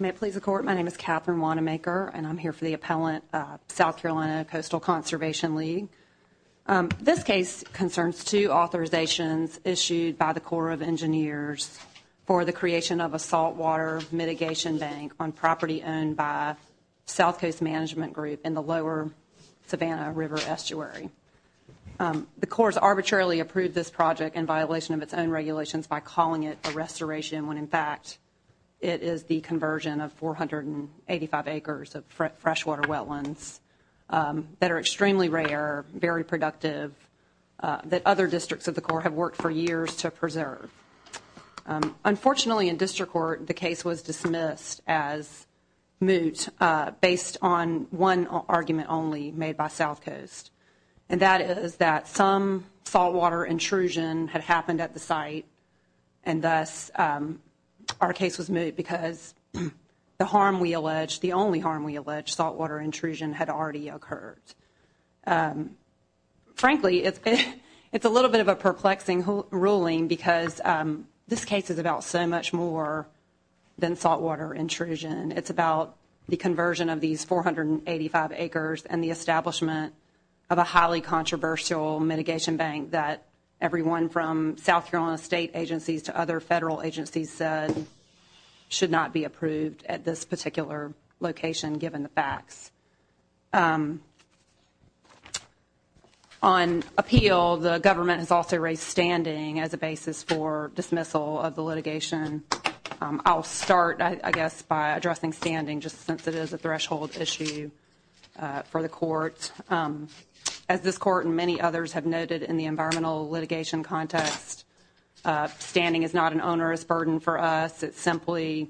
May it please the Court, my name is Catherine Wanamaker, and I'm here for the appellant of South Carolina Coastal Conservation League. This case concerns two authorizations issued by the Corps of Engineers for the creation of a saltwater mitigation bank on property owned by South Coast Management Group in the Lower Savannah River Estuary. The Corps arbitrarily approved this project in violation of its own regulations by calling it a restoration when in fact it is the conversion of 485 acres of freshwater wetlands that are extremely rare, very productive, that other districts of the Corps have worked for years to preserve. Unfortunately in district court, the case was dismissed as moot based on one argument only made by South Coast, and that is that some saltwater intrusion had happened at the site and thus our case was moot because the harm we allege, the only harm we allege, saltwater intrusion had already occurred. Frankly, it's a little bit of a perplexing ruling because this case is about so much more than saltwater intrusion. It's about the conversion of these 485 acres and the establishment of a highly controversial mitigation bank that everyone from South Carolina state agencies to other federal agencies said should not be approved at this particular location given the facts. On appeal, the government has also raised standing as a basis for dismissal of the litigation. I'll start, I guess, by addressing standing just since it is a threshold issue for the court. As this court and many others have noted in the environmental litigation context, standing is not an onerous burden for us. It's simply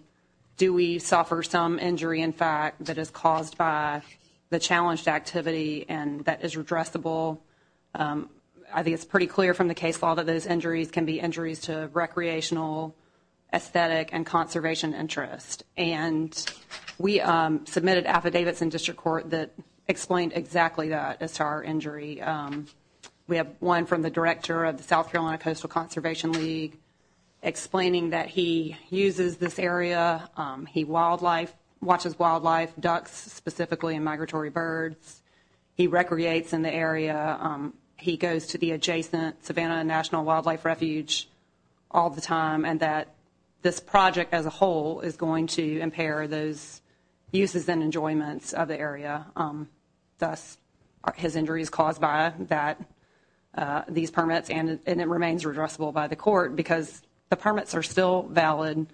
do we suffer some injury in fact that is caused by the challenged activity and that is redressable. I think it's pretty clear from the case law that those injuries can be injuries to recreational, aesthetic, and conservation interest. We submitted affidavits in district court that explained exactly that as to our injury. We have one from the director of the South Carolina Coastal Conservation League explaining that he uses this area. He watches wildlife, ducks specifically, and migratory birds. He recreates in the area. He goes to the adjacent Savannah National Wildlife Refuge all the time and that this project as a whole is going to impair those uses and enjoyments of the area. Thus, his injury is caused by these permits and it remains redressable by the court because the permits are still valid.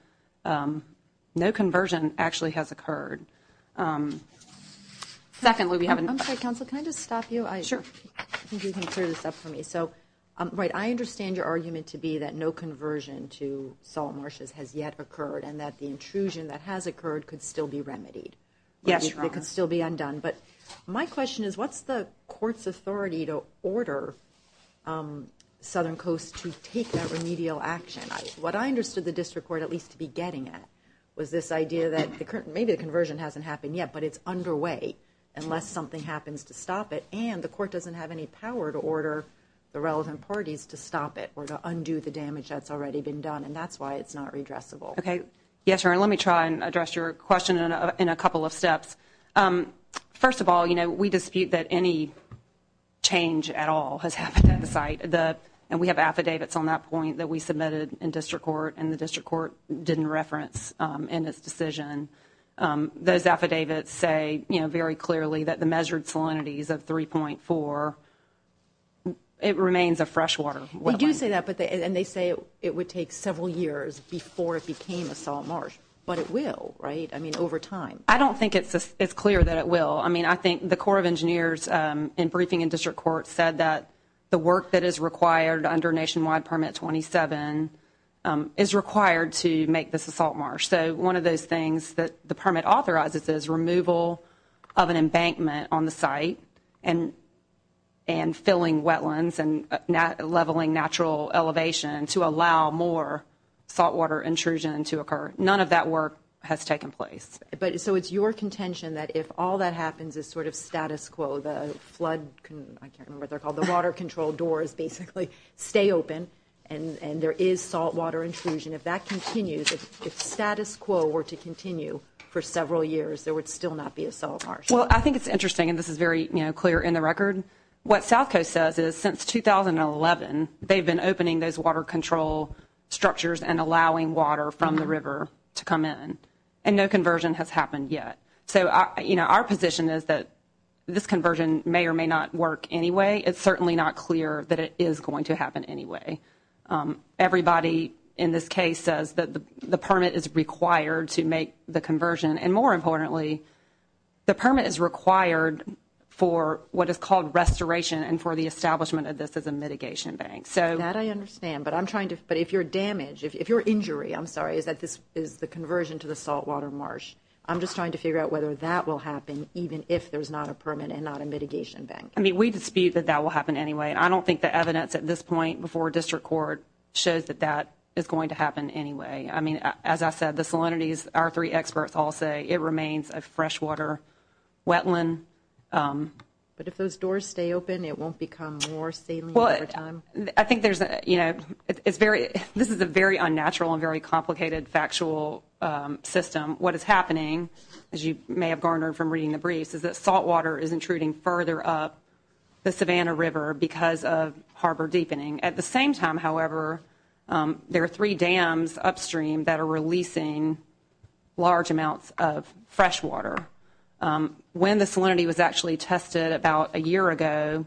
No conversion actually has occurred. Secondly, we have... I'm sorry, counsel, can I just stop you? Sure. I think you can clear this up for me. So, right, I understand your argument to be that no conversion to salt marshes has yet occurred and that the intrusion that has occurred could still be remedied. Yes, Your Honor. It could still be undone, but my question is what's the court's authority to order Southern Coast to take that remedial action? What I understood the district court at least to be getting at was this idea that maybe the conversion hasn't happened yet, but it's underway unless something happens to stop it and the court doesn't have any power to order the relevant parties to stop it or to undo the damage that's already been done and that's why it's not redressable. Okay. Yes, Your Honor. Let me try and address your question in a couple of steps. First of all, we dispute that any change at all has happened at the site and we have affidavits on that point that we submitted in district court and the district court didn't reference in its decision. Those affidavits say, you know, very clearly that the measured salinities of 3.4, it remains a freshwater wetland. They do say that and they say it would take several years before it became a salt marsh, but it will, right? I mean, over time. I don't think it's clear that it will. I mean, I think the Corps of Engineers in briefing in district court said that the work that is required under Nationwide Permit 27 is required to make this a salt marsh. So one of those things that the permit authorizes is removal of an embankment on the site and filling wetlands and leveling natural elevation to allow more saltwater intrusion to occur. None of that work has taken place. So it's your contention that if all that happens is sort of status quo, the flood, I can't remember what they're called, the water control doors basically stay open and there is saltwater intrusion, if that continues, if status quo were to continue for several years, there would still not be a salt marsh. Well, I think it's interesting and this is very clear in the record. What South Coast says is since 2011, they've been opening those water control structures and allowing water from the river to come in and no conversion has happened yet. So our position is that this conversion may or may not work anyway. It's certainly not clear that it is going to happen anyway. Everybody in this case says that the permit is required to make the conversion and more importantly, the permit is required for what is called restoration and for the establishment of this as a mitigation bank. That I understand, but if you're damaged, if you're injured, I'm sorry, is the conversion to the saltwater marsh. I'm just trying to figure out whether that will happen even if there's not a permit and not a mitigation bank. We dispute that that will happen anyway. I don't think the evidence at this point before district court shows that that is going to happen anyway. I mean, as I said, the salinities, our three experts all say it remains a freshwater wetland. But if those doors stay open, it won't become more saline over time? I think there's, you know, it's very, this is a very unnatural and very complicated factual system. What is happening, as you may have garnered from reading the briefs, is that saltwater is intruding further up the Savannah River because of harbor deepening. At the same time, however, there are three dams upstream that are releasing large amounts of freshwater. When the salinity was actually tested about a year ago,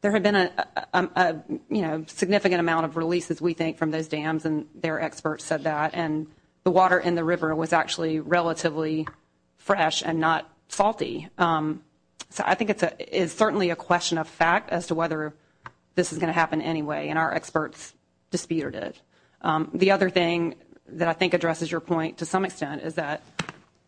there had been a significant amount of releases, we think, from those dams, and their experts said that, and the water in the river was actually relatively fresh and not salty. So I think it's certainly a question of fact as to whether this is going to happen anyway, and our experts disputed it. The other thing that I think addresses your point to some extent is that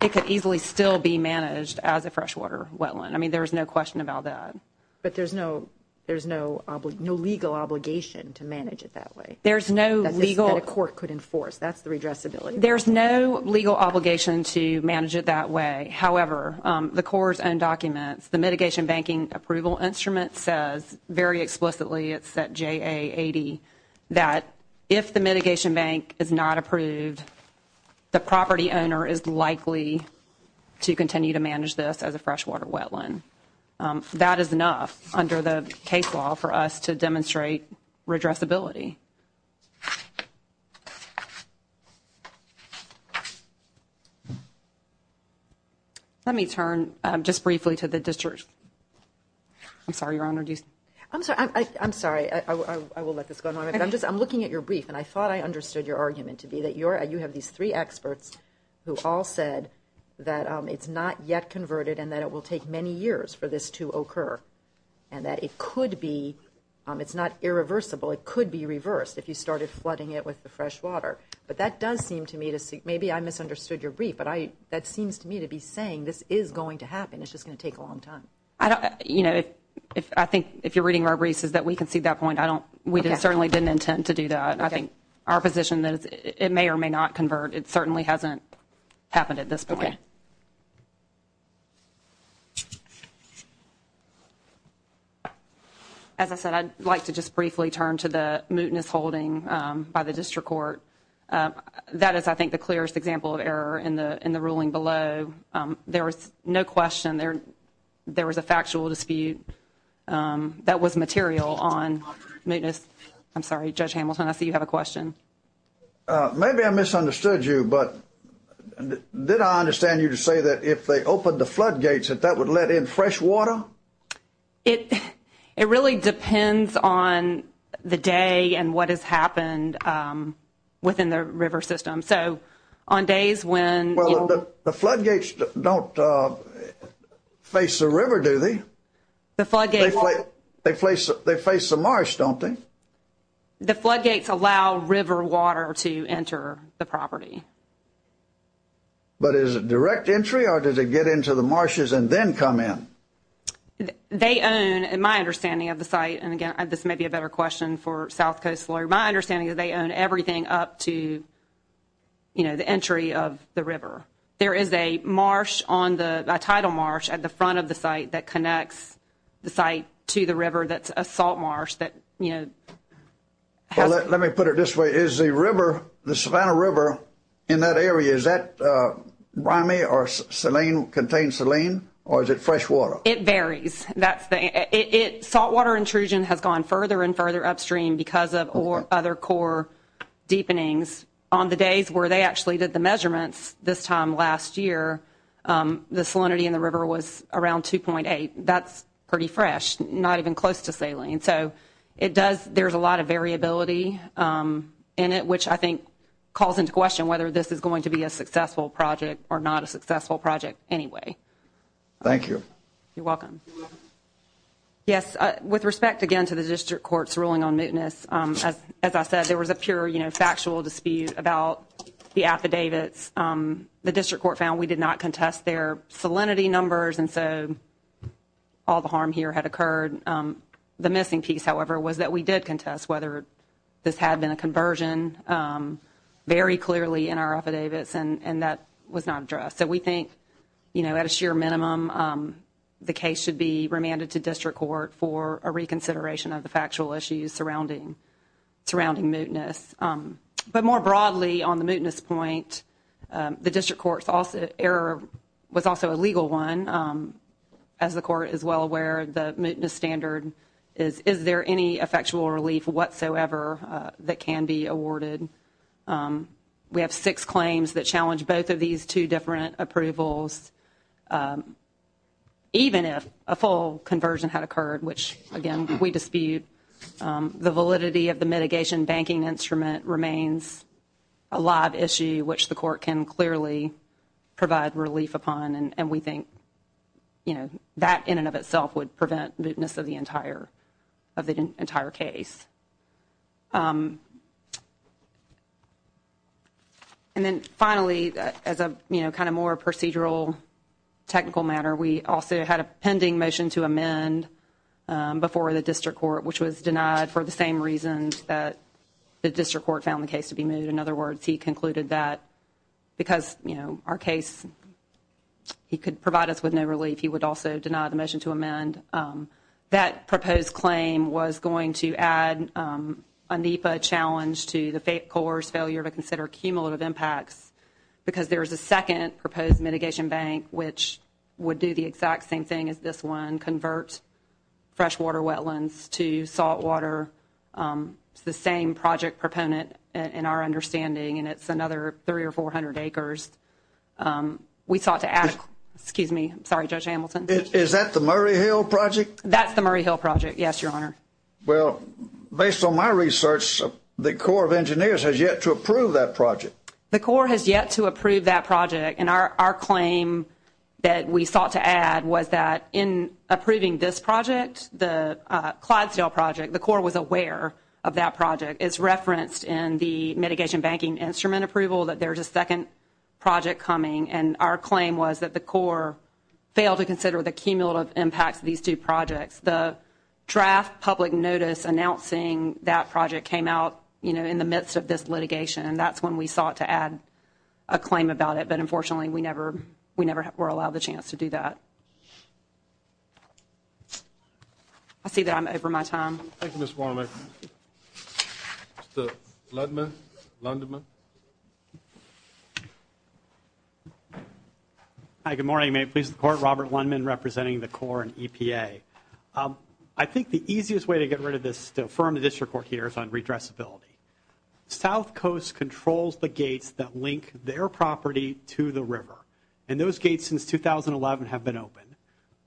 it could easily still be managed as a freshwater wetland. I mean, there's no question about that. But there's no, there's no legal obligation to manage it that way? There's no legal – That a court could enforce. That's the redressability. There's no legal obligation to manage it that way. However, the Corps' own documents, the Mitigation Banking Approval Instrument says very explicitly, it's at JA 80, that if the mitigation bank is not approved, the property owner is likely to continue to manage this as a freshwater wetland. That is enough under the case law for us to demonstrate redressability. Let me turn just briefly to the district. I'm sorry, Your Honor, do you – I'm looking at your brief, and I thought I understood your argument to be that you have these three experts who all said that it's not yet converted and that it will take many years for this to occur, and that it could be – it's not irreversible. It could be reversed if you started flooding it with the freshwater. But that does seem to me to – maybe I misunderstood your brief, but that seems to me to be saying this is going to happen. It's just going to take a long time. I think if you're reading our briefs, it's that we concede that point. We certainly didn't intend to do that. I think our position is it may or may not convert. It certainly hasn't happened at this point. As I said, I'd like to just briefly turn to the mootness holding by the district court. That is, I think, the clearest example of error in the ruling below. There was no question there was a factual dispute that was material on mootness. I'm sorry, Judge Hamilton, I see you have a question. Maybe I misunderstood you, but did I understand you to say that if they opened the floodgates that that would let in fresh water? It really depends on the day and what has happened within the river system. So on days when – Well, the floodgates don't face the river, do they? The floodgates – They face the marsh, don't they? The floodgates allow river water to enter the property. But is it direct entry or does it get into the marshes and then come in? They own, in my understanding of the site – and again, this may be a better question for South Coast lawyer – my understanding is they own everything up to the entry of the river. There is a marsh on the – a tidal marsh at the front of the site that connects the site to the river that's a salt marsh that, you know, has – Let me put it this way. Is the river, the Savannah River in that area, is that rimey or saline – contains saline or is it fresh water? It varies. That's the – it – saltwater intrusion has gone further and further upstream because of other core deepenings. On the days where they actually did the measurements this time last year, the salinity in the river was around 2.8. That's pretty fresh, not even close to saline. So it does – there's a lot of variability in it, which I think calls into question whether this is going to be a successful project or not a successful Thank you. You're welcome. Yes. With respect, again, to the District Court's ruling on mootness, as I said, there was a pure, you know, factual dispute about the affidavits. The District Court found we did not contest their salinity numbers and so all the harm here had occurred. The missing piece, however, was that we did contest whether this had been a conversion very clearly in our affidavits and that was not addressed. So we think, you know, at a sheer minimum, the case should be remanded to District Court for a reconsideration of the factual issues surrounding – surrounding mootness. But more broadly, on the mootness point, the District Court's error was also a legal one. As the Court is well aware, the mootness standard is is there any effectual relief whatsoever that can be awarded? We have six claims that even if a full conversion had occurred, which, again, we dispute, the validity of the mitigation banking instrument remains a live issue which the Court can clearly provide relief upon and we think, you know, that in and of itself would prevent mootness of the entire – of the entire case. And then finally, as a, you know, kind of more procedural technical matter, we also had a pending motion to amend before the District Court which was denied for the same reasons that the District Court found the case to be moot. In other words, he concluded that because, you know, our case – he could provide us with no relief, he would also deny the challenge to the court's failure to consider cumulative impacts because there is a second proposed mitigation bank which would do the exact same thing as this one, convert freshwater wetlands to saltwater. It's the same project proponent in our understanding and it's another 300 or 400 acres. We sought to add – excuse me, I'm sorry, Judge Hamilton. Is that the Murray Hill project? That's the Murray Hill project, yes, Your Honor. Well, based on my research, the Corps of Engineers has yet to approve that project. The Corps has yet to approve that project and our claim that we sought to add was that in approving this project, the Clydesdale project, the Corps was aware of that project. It's referenced in the mitigation banking instrument approval that there's a second project coming and our claim was that the Corps failed to consider the cumulative impacts of these two projects. The draft public notice announcing that project came out, you know, in the midst of this litigation and that's when we sought to add a claim about it but unfortunately we never – we never were allowed the chance to do that. I see that I'm over my time. Thank you, Ms. Warman. Mr. Ludman, Lundman. Hi, good morning. May it please the Court, Robert Lundman representing the Corps and EPA. I think the easiest way to get rid of this to affirm the district court here is on redressability. South Coast controls the gates that link their property to the river and those gates since 2011 have been open.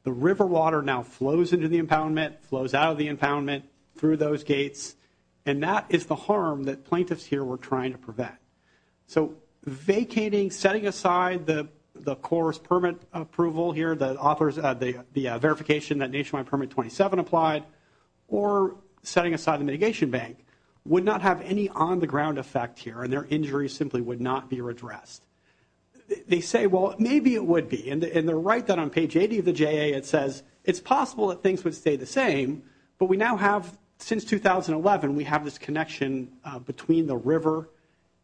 The river water now flows into the impoundment, flows out of the impoundment through those gates and that is the harm that plaintiffs here were trying to prevent. So vacating, setting aside the Corps' permit approval here, the authors – the verification that nationwide permit 27 applied or setting aside the mitigation bank would not have any on-the-ground effect here and their injuries simply would not be redressed. They say, well, maybe it would be and they're right that on page 80 of the JA it says it's possible that things would stay the same but we now have, since 2011, we have this connection between the river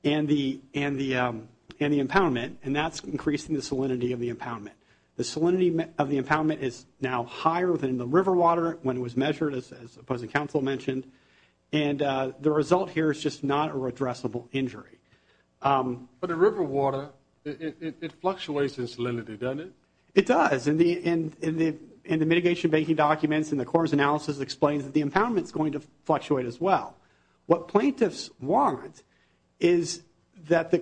and the impoundment and that's increasing the salinity of the impoundment. The salinity of the impoundment is now higher than the river water when it was measured as the opposing counsel mentioned and the result here is just not a redressable injury. But the river water, it fluctuates in salinity, doesn't it? It does. In the mitigation banking documents and the Corps' analysis explains that the impoundment is going to fluctuate as well. What plaintiffs want is that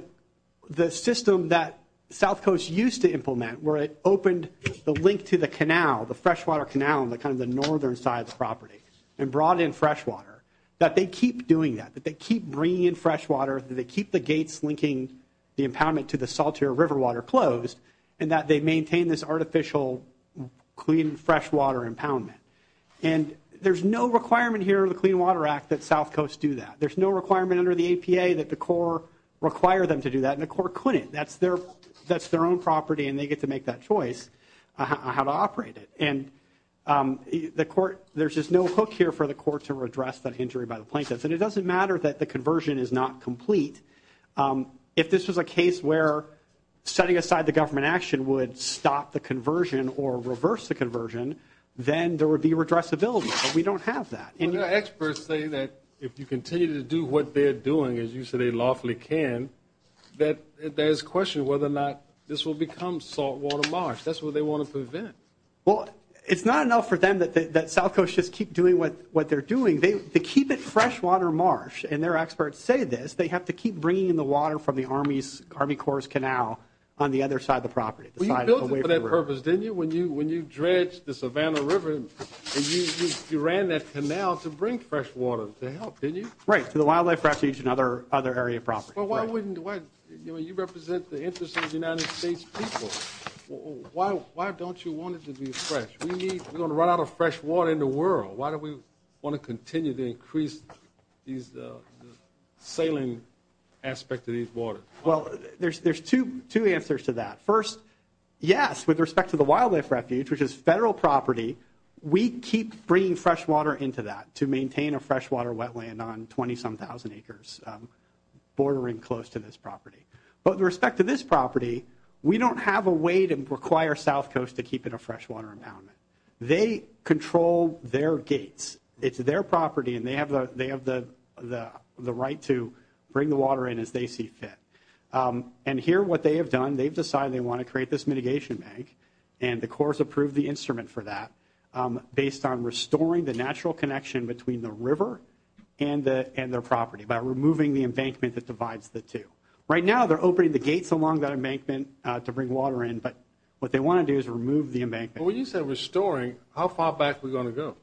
the system that South Coast used to implement where it opened the link to the canal, the freshwater canal in kind of the northern side of the property and brought in freshwater, that they keep doing that, that they keep bringing in freshwater, that they keep the gates linking the impoundment to the saltier river water closed and that they maintain this artificial clean freshwater impoundment. There's no requirement here in the Clean Water Act that South Coast do that. There's no requirement under the APA that the Corps require them to do that and the Corps couldn't. That's their own property and they get to make that choice on how to operate it. There's just no hook here for the Corps to redress that injury by the plaintiffs and it doesn't matter that the conversion is not complete. If this was a case where setting aside the government action would stop the conversion or reverse the conversion, then there would be redressability, but we don't have that. Experts say that if you continue to do what they're doing, as you say they lawfully can, that there's question whether or not this will become saltwater marsh. That's what they want to prevent. Well, it's not enough for them that South Coast just keep doing what they're doing. They keep it freshwater marsh and their experts say this. They have to keep bringing in the water from the Army Corps' canal on the other side of the property. Well, you built it for that purpose, didn't you? When you dredged the Savannah River and you ran that canal to bring fresh water to help, didn't you? Right. To the Wildlife Refuge and other area properties. Well, why wouldn't you? You represent the interest of the United States people. Why don't you want it to be fresh? We're going to run out of fresh water in the world. Why do we want to continue to increase the saline aspect of these waters? Well, there's two answers to that. First, yes, with respect to the Wildlife Refuge, which is a federal property, we keep bringing freshwater into that to maintain a freshwater wetland on 20-some thousand acres bordering close to this property. But with respect to this property, we don't have a way to require South Coast to keep it a freshwater impoundment. They control their gates. It's their property and they have the right to bring the water in as they see fit. And here, what they have done, they've decided they want to create this mitigation bank and the Corps approved the instrument for that based on restoring the natural connection between the river and their property by removing the embankment that divides the two. Right now, they're opening the gates along that embankment to bring water in, but what they want to do is remove the embankment. But when you say restoring, how far back are we going to go?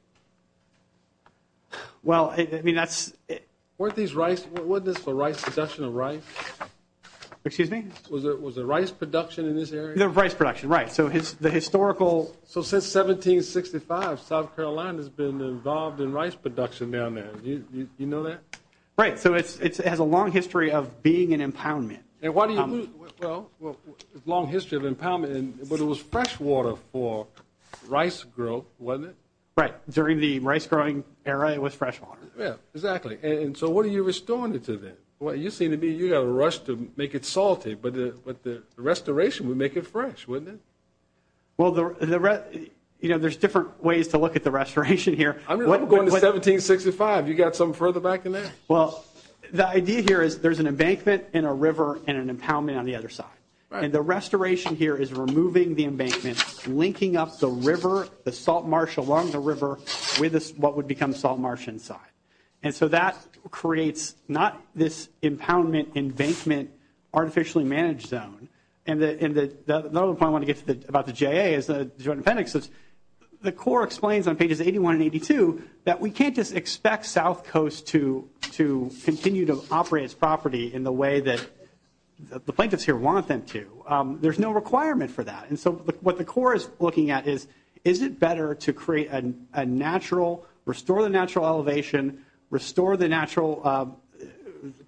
Well, I mean, that's... Weren't these rice, wasn't this for rice production of rice? Excuse me? Was there rice production in this area? There was rice production, right. So the historical... So since 1765, South Carolina's been involved in rice production down there. Do you know that? Right. So it has a long history of being an impoundment. And why do you... Well, it's a long history of impoundment, but it was fresh water for rice growth, wasn't it? Right. During the rice growing era, it was fresh water. Yeah, exactly. And so what are you restoring it to then? You seem to be... You got a rush to make it salty, but the restoration would make it fresh, wouldn't it? Well, you know, there's different ways to look at the restoration here. I'm going to 1765. You got something further back than that? Well, the idea here is there's an embankment and a river and an impoundment on the other side. And the restoration here is removing the embankment, linking up the river, the salt marsh along the river with what would become salt marsh inside. And so that creates not this impoundment, embankment, artificially managed zone. And another point I want to get to about the JA is the Joint Appendix. The Corps explains on pages 81 and 82 that we can't just expect South Coast to continue to operate its property in the way that the plaintiffs here want them to. There's no requirement for that. And so what the Corps is looking at is, is it better to create a natural, restore the natural elevation, restore the natural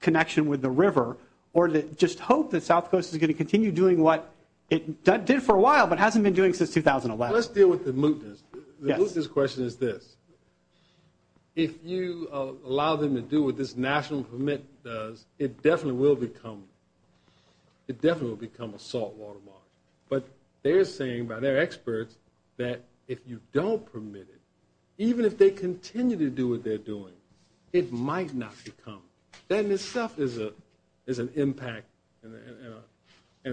connection with the river, or just hope that South Coast is going to continue doing what it did for a while but hasn't been doing since 2011? Let's deal with the mootness. The mootness question is this. If you allow them to do what this national permit does, it definitely will become, it definitely will become a saltwater marsh. But they're saying by their experts that if you don't permit it, even if they continue to do what they're doing, it might not become. That in itself is an impact and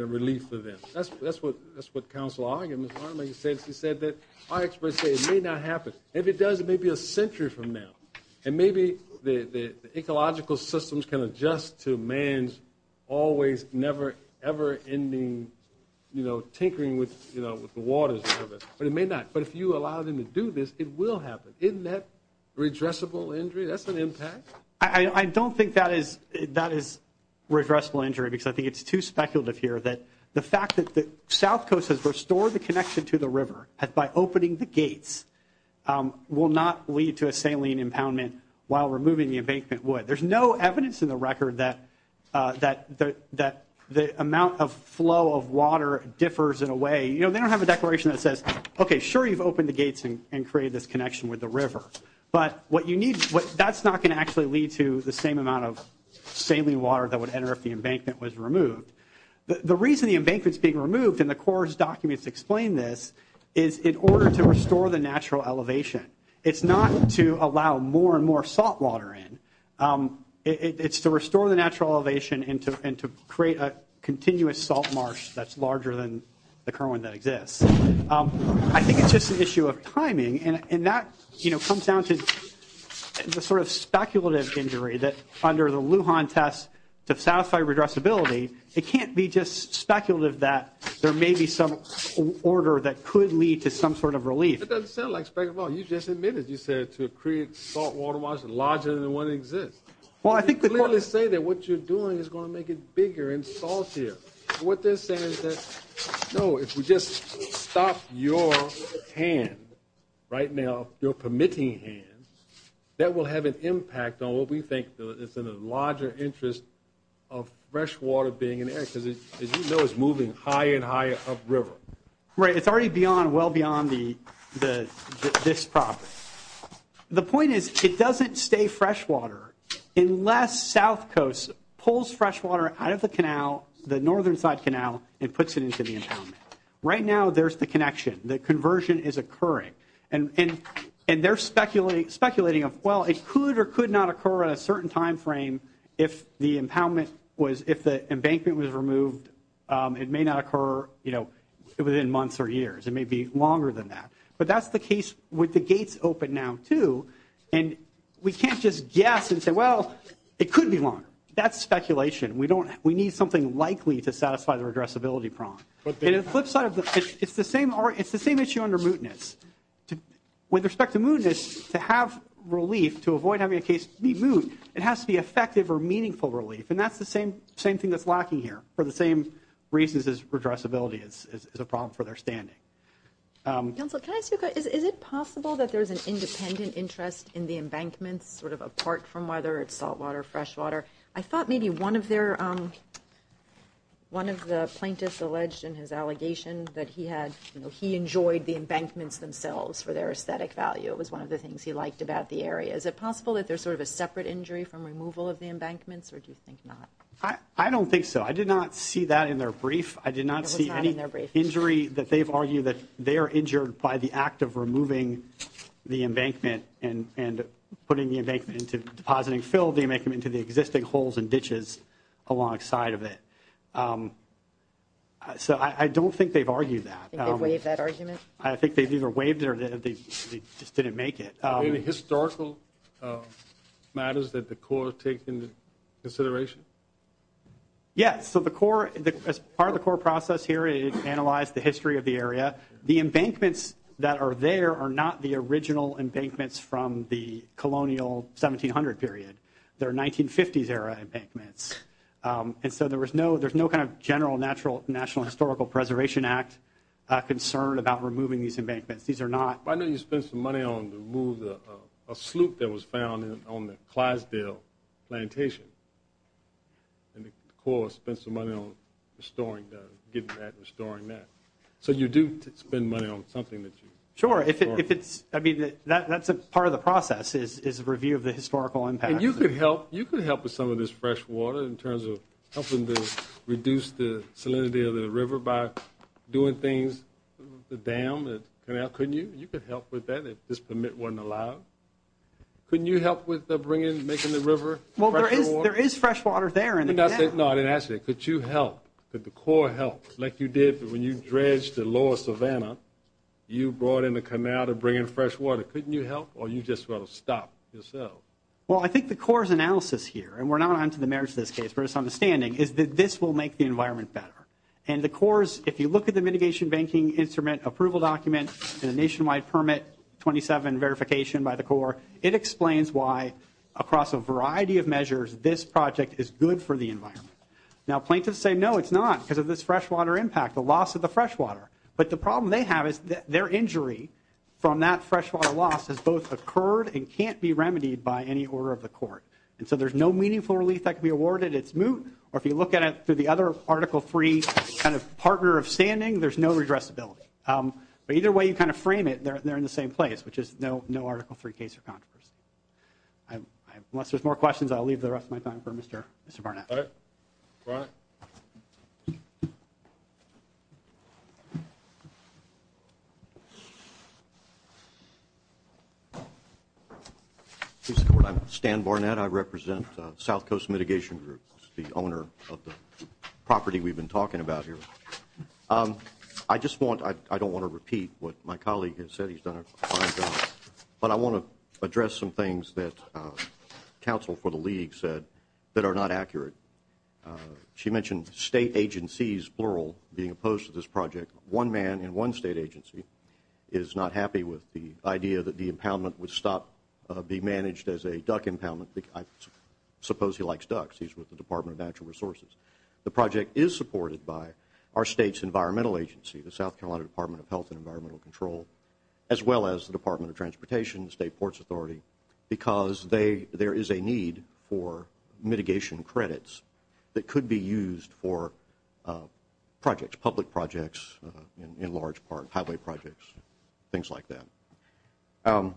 a relief for them. That's what Counsel Argen said. He said that our experts say it may not happen. If it does, it may be a century from now. And maybe the ecological systems can adjust to man's always, never, ever ending, you know, tinkering with the waters. But it may not. But if you allow them to do this, it will happen. Isn't that redressable injury? That's an impact? I don't think that is redressable injury because I think it's too speculative here that the fact that the South Coast has restored the connection to the river by opening the gates will not lead to a saline impoundment while removing the embankment would. There's no evidence in the record that the amount of flow of water differs in a way. You know, they don't have a declaration that says, okay, sure you've opened the gates and created this connection with the river. But what you need, that's not going to actually lead to the same amount of saline water that would enter if the embankment was removed. The reason the embankment is being removed, and the CORS documents explain this, is in order to restore the natural elevation. It's not to allow more and more salt water in. It's to restore the natural elevation and to create a continuous salt marsh that's larger than the current one that exists. I think it's just an issue of timing. And that, you know, comes down to the sort of speculative injury that under the Lujan test to satisfy redressability, it can't be just speculative that there may be some order that could lead to some sort of relief. It doesn't sound like speculative. You just admitted, you said, to create salt water marshes larger than the one that exists. Well, I think that... You clearly say that what you're doing is going to make it bigger and saltier. What they're saying is that, no, if we just stop your hand right now, your permitting hand, that will have an impact on what we think that it's in a larger interest of fresh water being in there because, as you know, it's moving higher and higher upriver. Right. It's already beyond, well beyond this problem. The point is, it doesn't stay fresh water unless South Coast pulls fresh water out of the canal, the northern side canal, and puts it into the impoundment. Right now, there's the connection. The conversion is occurring. And they're speculating of, well, it could or could not occur at a certain time frame if the impoundment was, if the embankment was removed. It may not occur within months or years. It may be longer than that. But that's the case with the gates open now, too. And we can't just guess and say, well, it could be longer. That's speculation. We need something likely to satisfy the regressibility prong. It's the same issue under mootness. With respect to mootness, to have relief, to avoid having a case be moot, it has to be effective or meaningful relief. And that's the same thing that's lacking here for the same reasons as regressibility is a problem for their standing. Council, can I ask you a question? Is it possible that there's an independent interest in the embankment, sort of apart from whether it's salt water, fresh water? I thought maybe one of the plaintiffs alleged in his allegation that he enjoyed the embankments themselves for their aesthetic value. It was one of the things he liked about the area. Is it possible that there's sort of a separate injury from removal of the embankments? Or do you think not? I don't think so. I did not see that in their brief. I did not see any injury that they've argued that they are injured by the act of removing the embankment and putting the embankment into, depositing fill the embankment into the existing holes and ditches alongside of it. So I don't think they've argued that. Do you think they've waived that argument? I think they've either waived it or they just didn't make it. Are there any historical matters that the court has taken into consideration? Yes. So the court, part of the court process here is to analyze the history of the area. The embankments that are there are not the original embankments from the colonial 1700 period. They're 1950s era embankments. And so there's no kind of general National Historical Preservation Act concern about removing these embankments. These are not... I know you spent some money on to remove a sloop that was found on the Clydesdale plantation. And the court spent some money on restoring that. So you do spend money on something that you... Sure, if it's... I mean, that's a part of the process is a review of the historical impact. And you could help with some of this fresh water in terms of helping to reduce the salinity of the river by doing things, the dam, the canal. Couldn't you? You could help with that if this permit wasn't allowed. Couldn't you help with making the river fresh water? Well, there is fresh water there. No, I didn't ask that. Could you help? Could the court help like you did when you dredged the lower savanna? You brought in the canal to bring in fresh water. Couldn't you help? Or you just want to stop yourself? Well, I think the court's analysis here, and we're not onto the merits of this case, but it's understanding, is that this will make the environment better. And the court's... If you look at the mitigation banking instrument approval document and the nationwide permit 27 verification by the court, it explains why across a variety of measures this project is good for the environment. Now, plaintiffs say, no, it's not because of this fresh water impact, the loss of the fresh water. But the problem they have is their injury from that fresh water loss has both occurred and can't be remedied by any order of the court. And so there's no meaningful relief that can be awarded. It's moot. Or if you look at it through the other Article III kind of partner of standing, there's no redressability. But either way you kind of frame it, they're in the same place, which is no Article III case or controversy. Unless there's more questions, I'll leave the rest of my time for Mr. Barnett. All right. Brian. Please support. I'm Stan Barnett. I represent South Coast Mitigation Group. I'm the owner of the property we've been talking about here. I just want, I don't want to repeat what my colleague has said. He's done a fine job. But I want to address some things that counsel for the league said She mentioned state agencies, plural, being opposed to this project. One of the things that I want to address One man in one state agency is not happy with the idea that the impoundment would stop be managed as a duck impoundment. I suppose he likes ducks. He's with the Department of Natural Resources. The project is supported by our state's environmental agency, the South Carolina Department of Health and Environmental Control, as well as the Department of Transportation, the State Ports Authority, because there is a need for mitigation credits that could be used for projects, public projects, in large part, highway projects, things like that.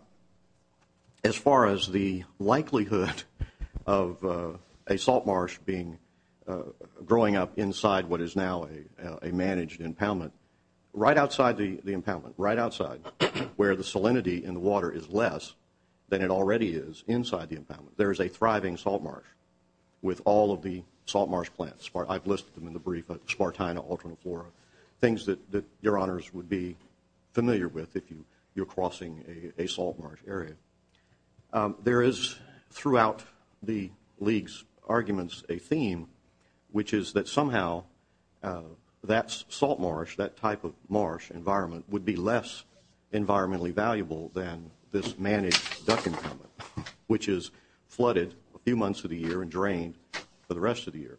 As far as the likelihood of a salt marsh being, growing up inside what is now a managed impoundment, right outside the impoundment, right outside where the salinity in the water is less than it already is inside the impoundment. There is a thriving salt marsh with all of the salt marsh plants. I've listed them in the brief, Spartina, Alterniflora, things that your honors would be familiar with if you're crossing a salt marsh area. There is throughout the league's arguments a theme which is that somehow that salt marsh, that type of marsh environment, would be less environmentally valuable than this managed duck impoundment which is flooded a few months of the year and drained for the rest of the year.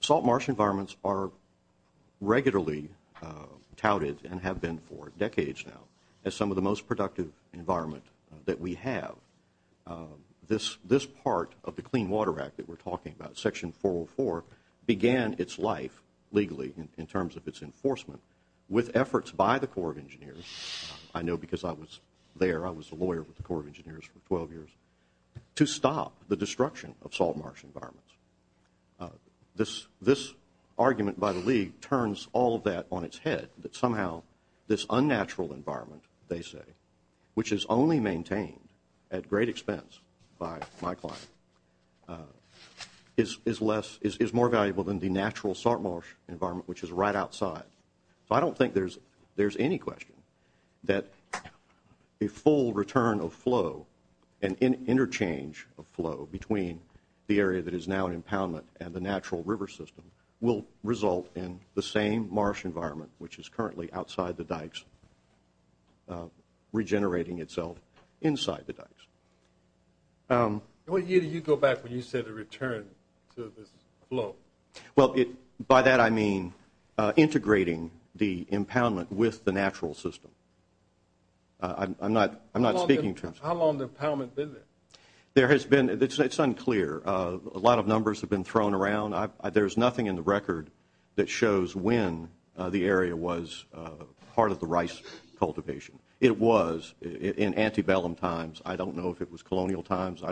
Salt marsh environments are regularly touted and have been for decades now as some of the most productive environment that we have. This part of the Clean Water Act that we're talking about, Section 404, began its life, legally, in terms of its enforcement with efforts by the Corps of Engineers, I know because I was there, I was a lawyer with the Corps of Engineers for 12 years, to stop the destruction of salt marsh environments. This argument by the league turns all of that on its head that somehow this unnatural environment, they say, which is only maintained at great expense by my client is more valuable than the natural salt marsh environment which is right outside. So I don't think there's any question that a full return of flow and interchange of flow between the area that is now an impoundment and the natural river system will result in the same marsh environment which is currently outside the dikes regenerating itself inside the dikes. What year did you go back when you said a return to this flow? Well, by that I mean integrating the impoundment with the natural system. I'm not How long has the impoundment been there? It's unclear. A lot of numbers have been thrown around. There's nothing in the record that shows when the area was part of the rice cultivation. It was in antebellum times. I don't know if it was colonial times.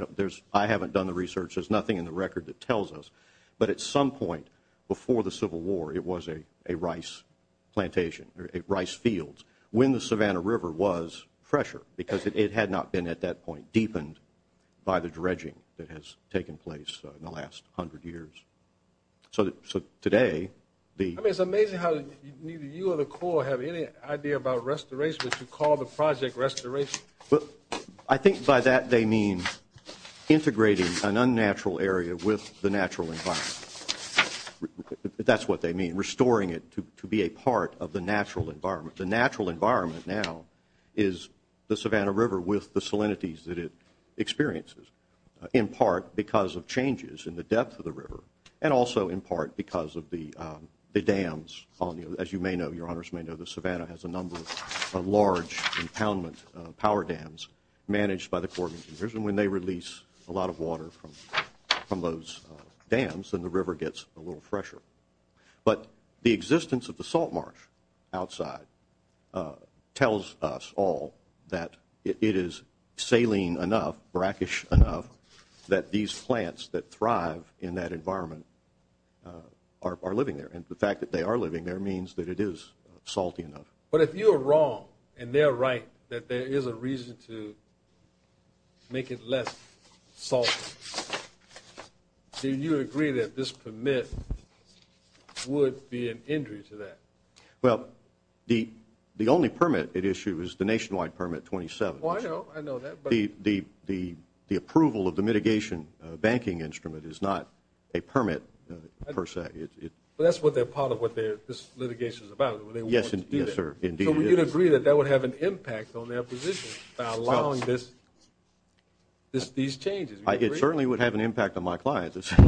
I haven't done the research. There's nothing in the record that tells us. But at some point before the Civil War, it was a rice plantation, rice fields, when the Savannah River was fresher because it had not been at that point deepened by the dredging that has taken place in the last hundred years. So today I mean, it's amazing how neither you or the Corps have any idea about restoration, but you call the project restoration. I think by that they mean integrating an unnatural area with the natural environment. That's what they mean. Restoring it to be a part of the natural environment. The natural environment now is the Savannah River with the salinities that it experiences in part because of changes in the depth of the river and also in part because of the dams. As you may know, the Savannah has a number of large impoundment power dams managed by the Corps of Engineers and when they release a lot of water from those dams then the river gets a little fresher. But the existence of the tells us all that it is saline enough, brackish enough that these plants that thrive in that environment are living there. And the fact that they are living there means that it is salty enough. But if you are wrong and they're right that there is a reason to make it less salty do you agree that this permit would be an injury to that? Well, the only permit at issue is the nationwide permit 27. The approval of the mitigation banking instrument is not a permit per se. But that's part of what this litigation is about. So would you agree that that would have an impact on their position by allowing these changes? It certainly would have an impact on my clients. I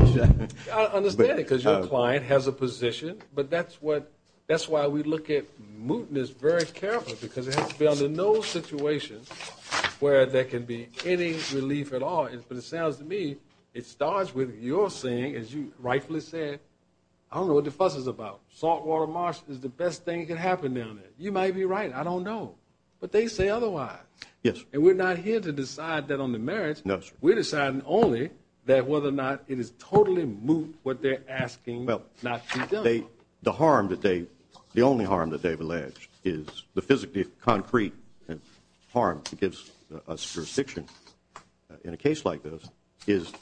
understand it because your client has a That's why we look at mootness very carefully because there has been no situation where there can be any relief at all. But it sounds to me, it starts with your saying, as you rightfully said I don't know what the fuss is about. Saltwater marsh is the best thing that can happen down there. You might be right. I don't know. But they say otherwise. And we're not here to decide that on the merits. We're deciding only that whether or not it is totally moot what they're asking not to be done. The only harm that they've alleged is the physically concrete harm that gives us jurisdiction in a case like this is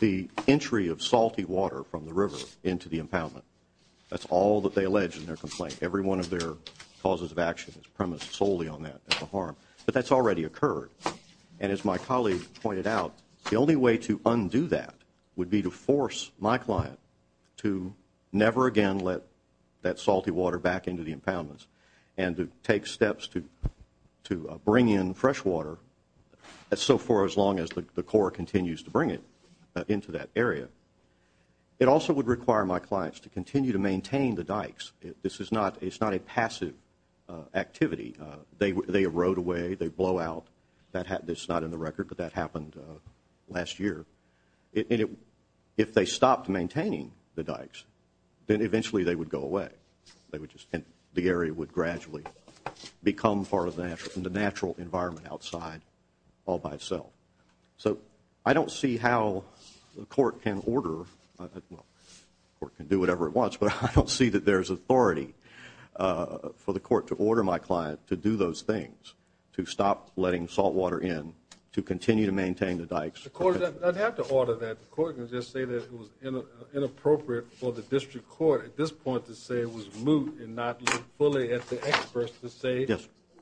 the entry of salty water from the river into the impoundment. That's all that they allege in their complaint. Every one of their causes of action is premised solely on that as a harm. But that's already occurred. And as my colleague pointed out, the only way to undo that would be to force my client to never again let that salty water back into the impoundments and to take steps to bring in fresh water so far as long as the Corps continues to bring it into that area. It also would require my clients to continue to maintain the dikes. It's not a passive activity. They erode away. They blow out. It's not in the record, but that happened last year. If they stopped maintaining the dikes, then eventually they would go away. The area would gradually become part of the natural environment outside all by itself. So I don't see how the Court can order or do whatever it wants, but I don't see that there's authority for the Court to order my client to do those things to stop letting salt water in to continue to maintain the dikes. The Court doesn't have to order that. The Court can just say that it was inappropriate for the District Court at this point to say it was moot and not look fully at the experts to say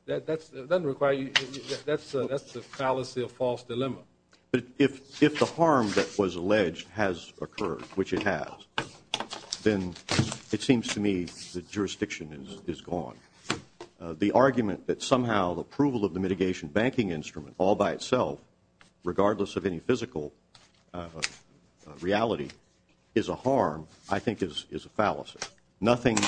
that doesn't require you that's a fallacy, a false dilemma. But if the harm that was alleged has occurred, which it has, then it seems to me that jurisdiction is gone. The argument that somehow the approval of the mitigation banking instrument all by itself, regardless of any physical reality, is a harm I think is a fallacy. Nothing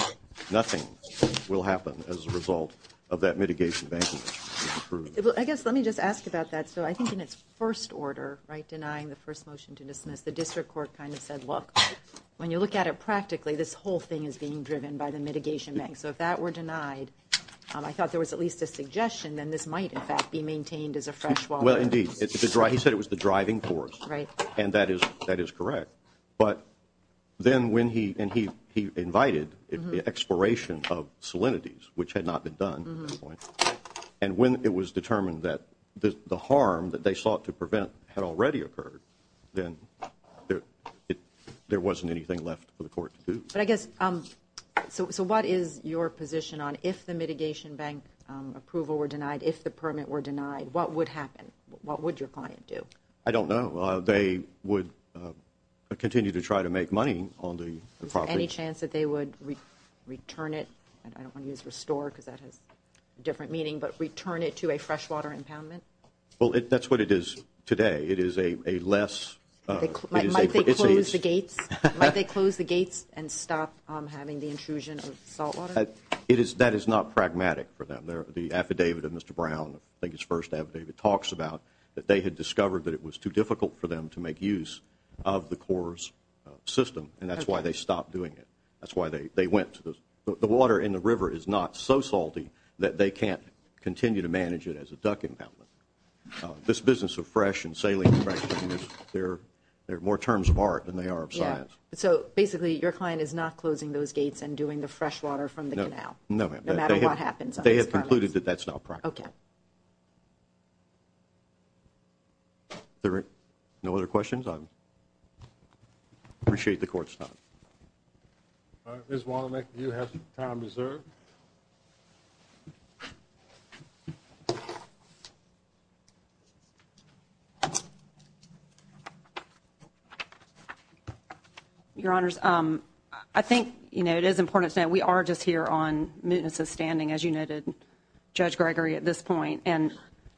will happen as a result of that mitigation banking instrument being approved. Let me just ask about that. I think in its first order, denying the first motion to dismiss, the District Court kind of said look, when you look at it practically this whole thing is being driven by the mitigation bank. So if that were denied I thought there was at least a suggestion that this might in fact be maintained as a fresh wall. Well indeed. He said it was the driving force. Right. And that is correct. But then when he invited the expiration of salinities, which had not been done at this point, and when it was determined that the harm that they sought to prevent had already occurred then there wasn't anything left for the Court to do. But I guess So what is your position on if the mitigation bank approval were denied, if the permit were denied, what would happen? What would your client do? I don't know. They would continue to try to make money on the property. Is there any chance that they would return it? I don't want to use restore because that has a different meaning, but return it to a freshwater impoundment? Well that's what it is today. It is a less Might they close the gates? And stop having the intrusion of salt water? That is not pragmatic for them. The affidavit of Mr. Brown, I think it's the first affidavit talks about that they had discovered that it was too difficult for them to make use of the Corps' system and that's why they stopped doing it. That's why they went to the The water in the river is not so salty that they can't continue to manage it as a duck impoundment. This business of fresh and saline there are more terms of art So basically your client is not closing those gates and doing the freshwater from the canal? They have concluded that that's not practical. No other questions? I appreciate the court's time. Ms. Wallinick you have some time reserved. Your honors I think it is important to say we are just here on mootness of standing as you noted Judge Gregory at this point and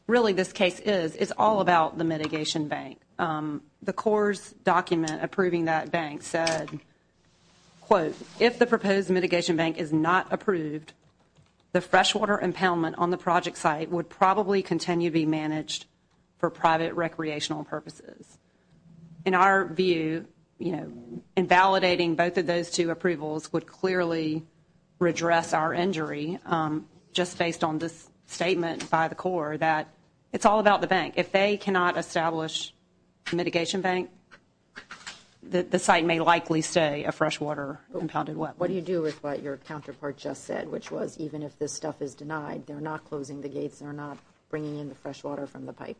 really this case is all about the mitigation bank. The Corps' document approving that bank said quote If the proposed mitigation bank is not approved the freshwater impoundment on the project site would probably continue to be managed for private recreational purposes. In our view invalidating both of those two approvals would clearly redress our injury just based on this statement by the Corps that it's all about the bank. If they cannot establish mitigation bank the site may likely stay a freshwater impounded What do you do with what your counterpart just said which was even if this stuff is denied they're not closing the gates they're not bringing in the freshwater from the pipe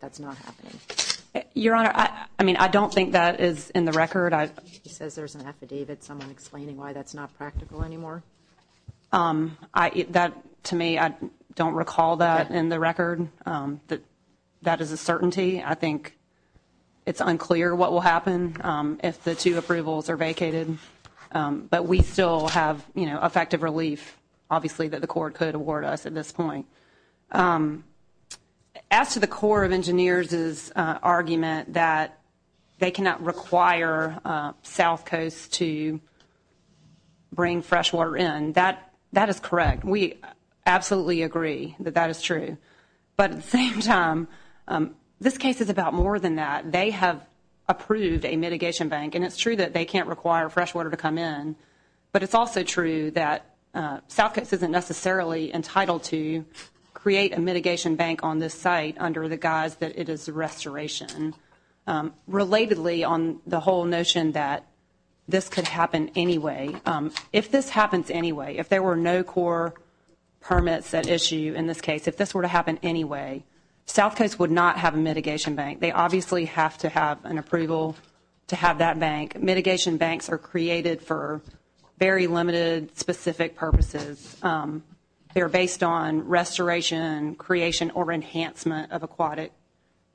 Your honor I don't think that is in the record He says there's an affidavit explaining why that's not practical anymore That to me I don't recall that in the record that is a certainty I think it's unclear what will happen if the two approvals are vacated but we still have effective relief obviously that the Corps could award us at this point As to the Corps of Engineers' argument that they cannot require South Coast to bring freshwater in that is correct. We absolutely agree that that is true but at the same time this case is about more than that. They have approved a mitigation bank and it's true that they can't require freshwater to come in but it's also true that South Coast isn't necessarily entitled to create a mitigation bank on this site under the guise that it is a restoration Relatedly on the whole notion that this could happen anyway, if this happens anyway, if there were no Corps permits at issue in this case, if this were to happen anyway South Coast would not have a mitigation bank They obviously have to have an approval to have that bank Mitigation banks are created for very limited specific purposes. They are based on restoration, creation or enhancement of aquatic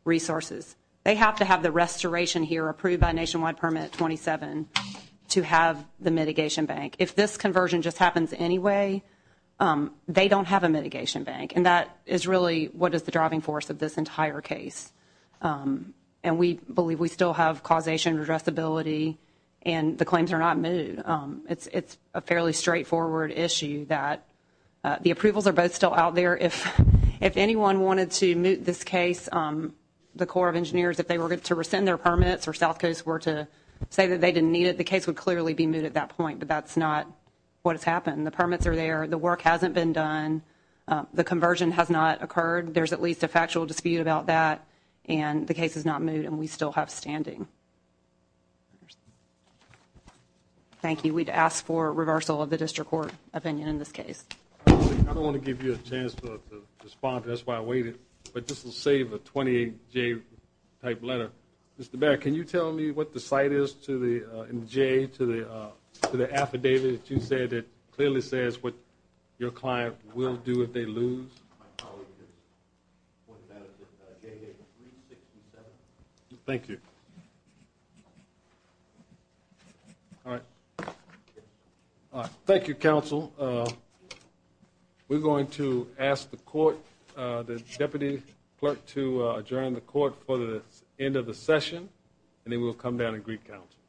resources. They have to have the restoration here approved by Nationwide Permit 27 to have the mitigation bank. If this conversion just happens anyway they don't have a mitigation bank and that is really what is the driving force of this entire case and we believe we still have causation addressability and the claims are not moved It's a fairly straightforward issue that the approvals are both still out there If anyone wanted to move this case the Corps of Engineers if they were to rescind their permits or South Coast were to say that they didn't need it the case would clearly be moved at that point but that's not what has happened. The permits are there The work hasn't been done The conversion has not occurred There's at least a factual dispute about that and the case is not moved and we still have standing Thank you Thank you We'd ask for reversal of the district court opinion in this case I don't want to give you a chance to respond that's why I waited but this will save a 28J type letter Mr. Baird, can you tell me what the site is to the affidavit that you said that clearly says what your client will do if they lose My colleague has pointed that out It's at JJ367 Thank you Thank you, counsel We're going to ask the court the deputy clerk to adjourn the court for the end of the session and then we'll come down and greet counsel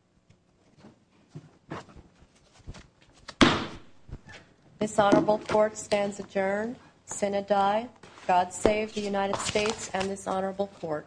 This honorable court stands adjourned God save the United States and this honorable court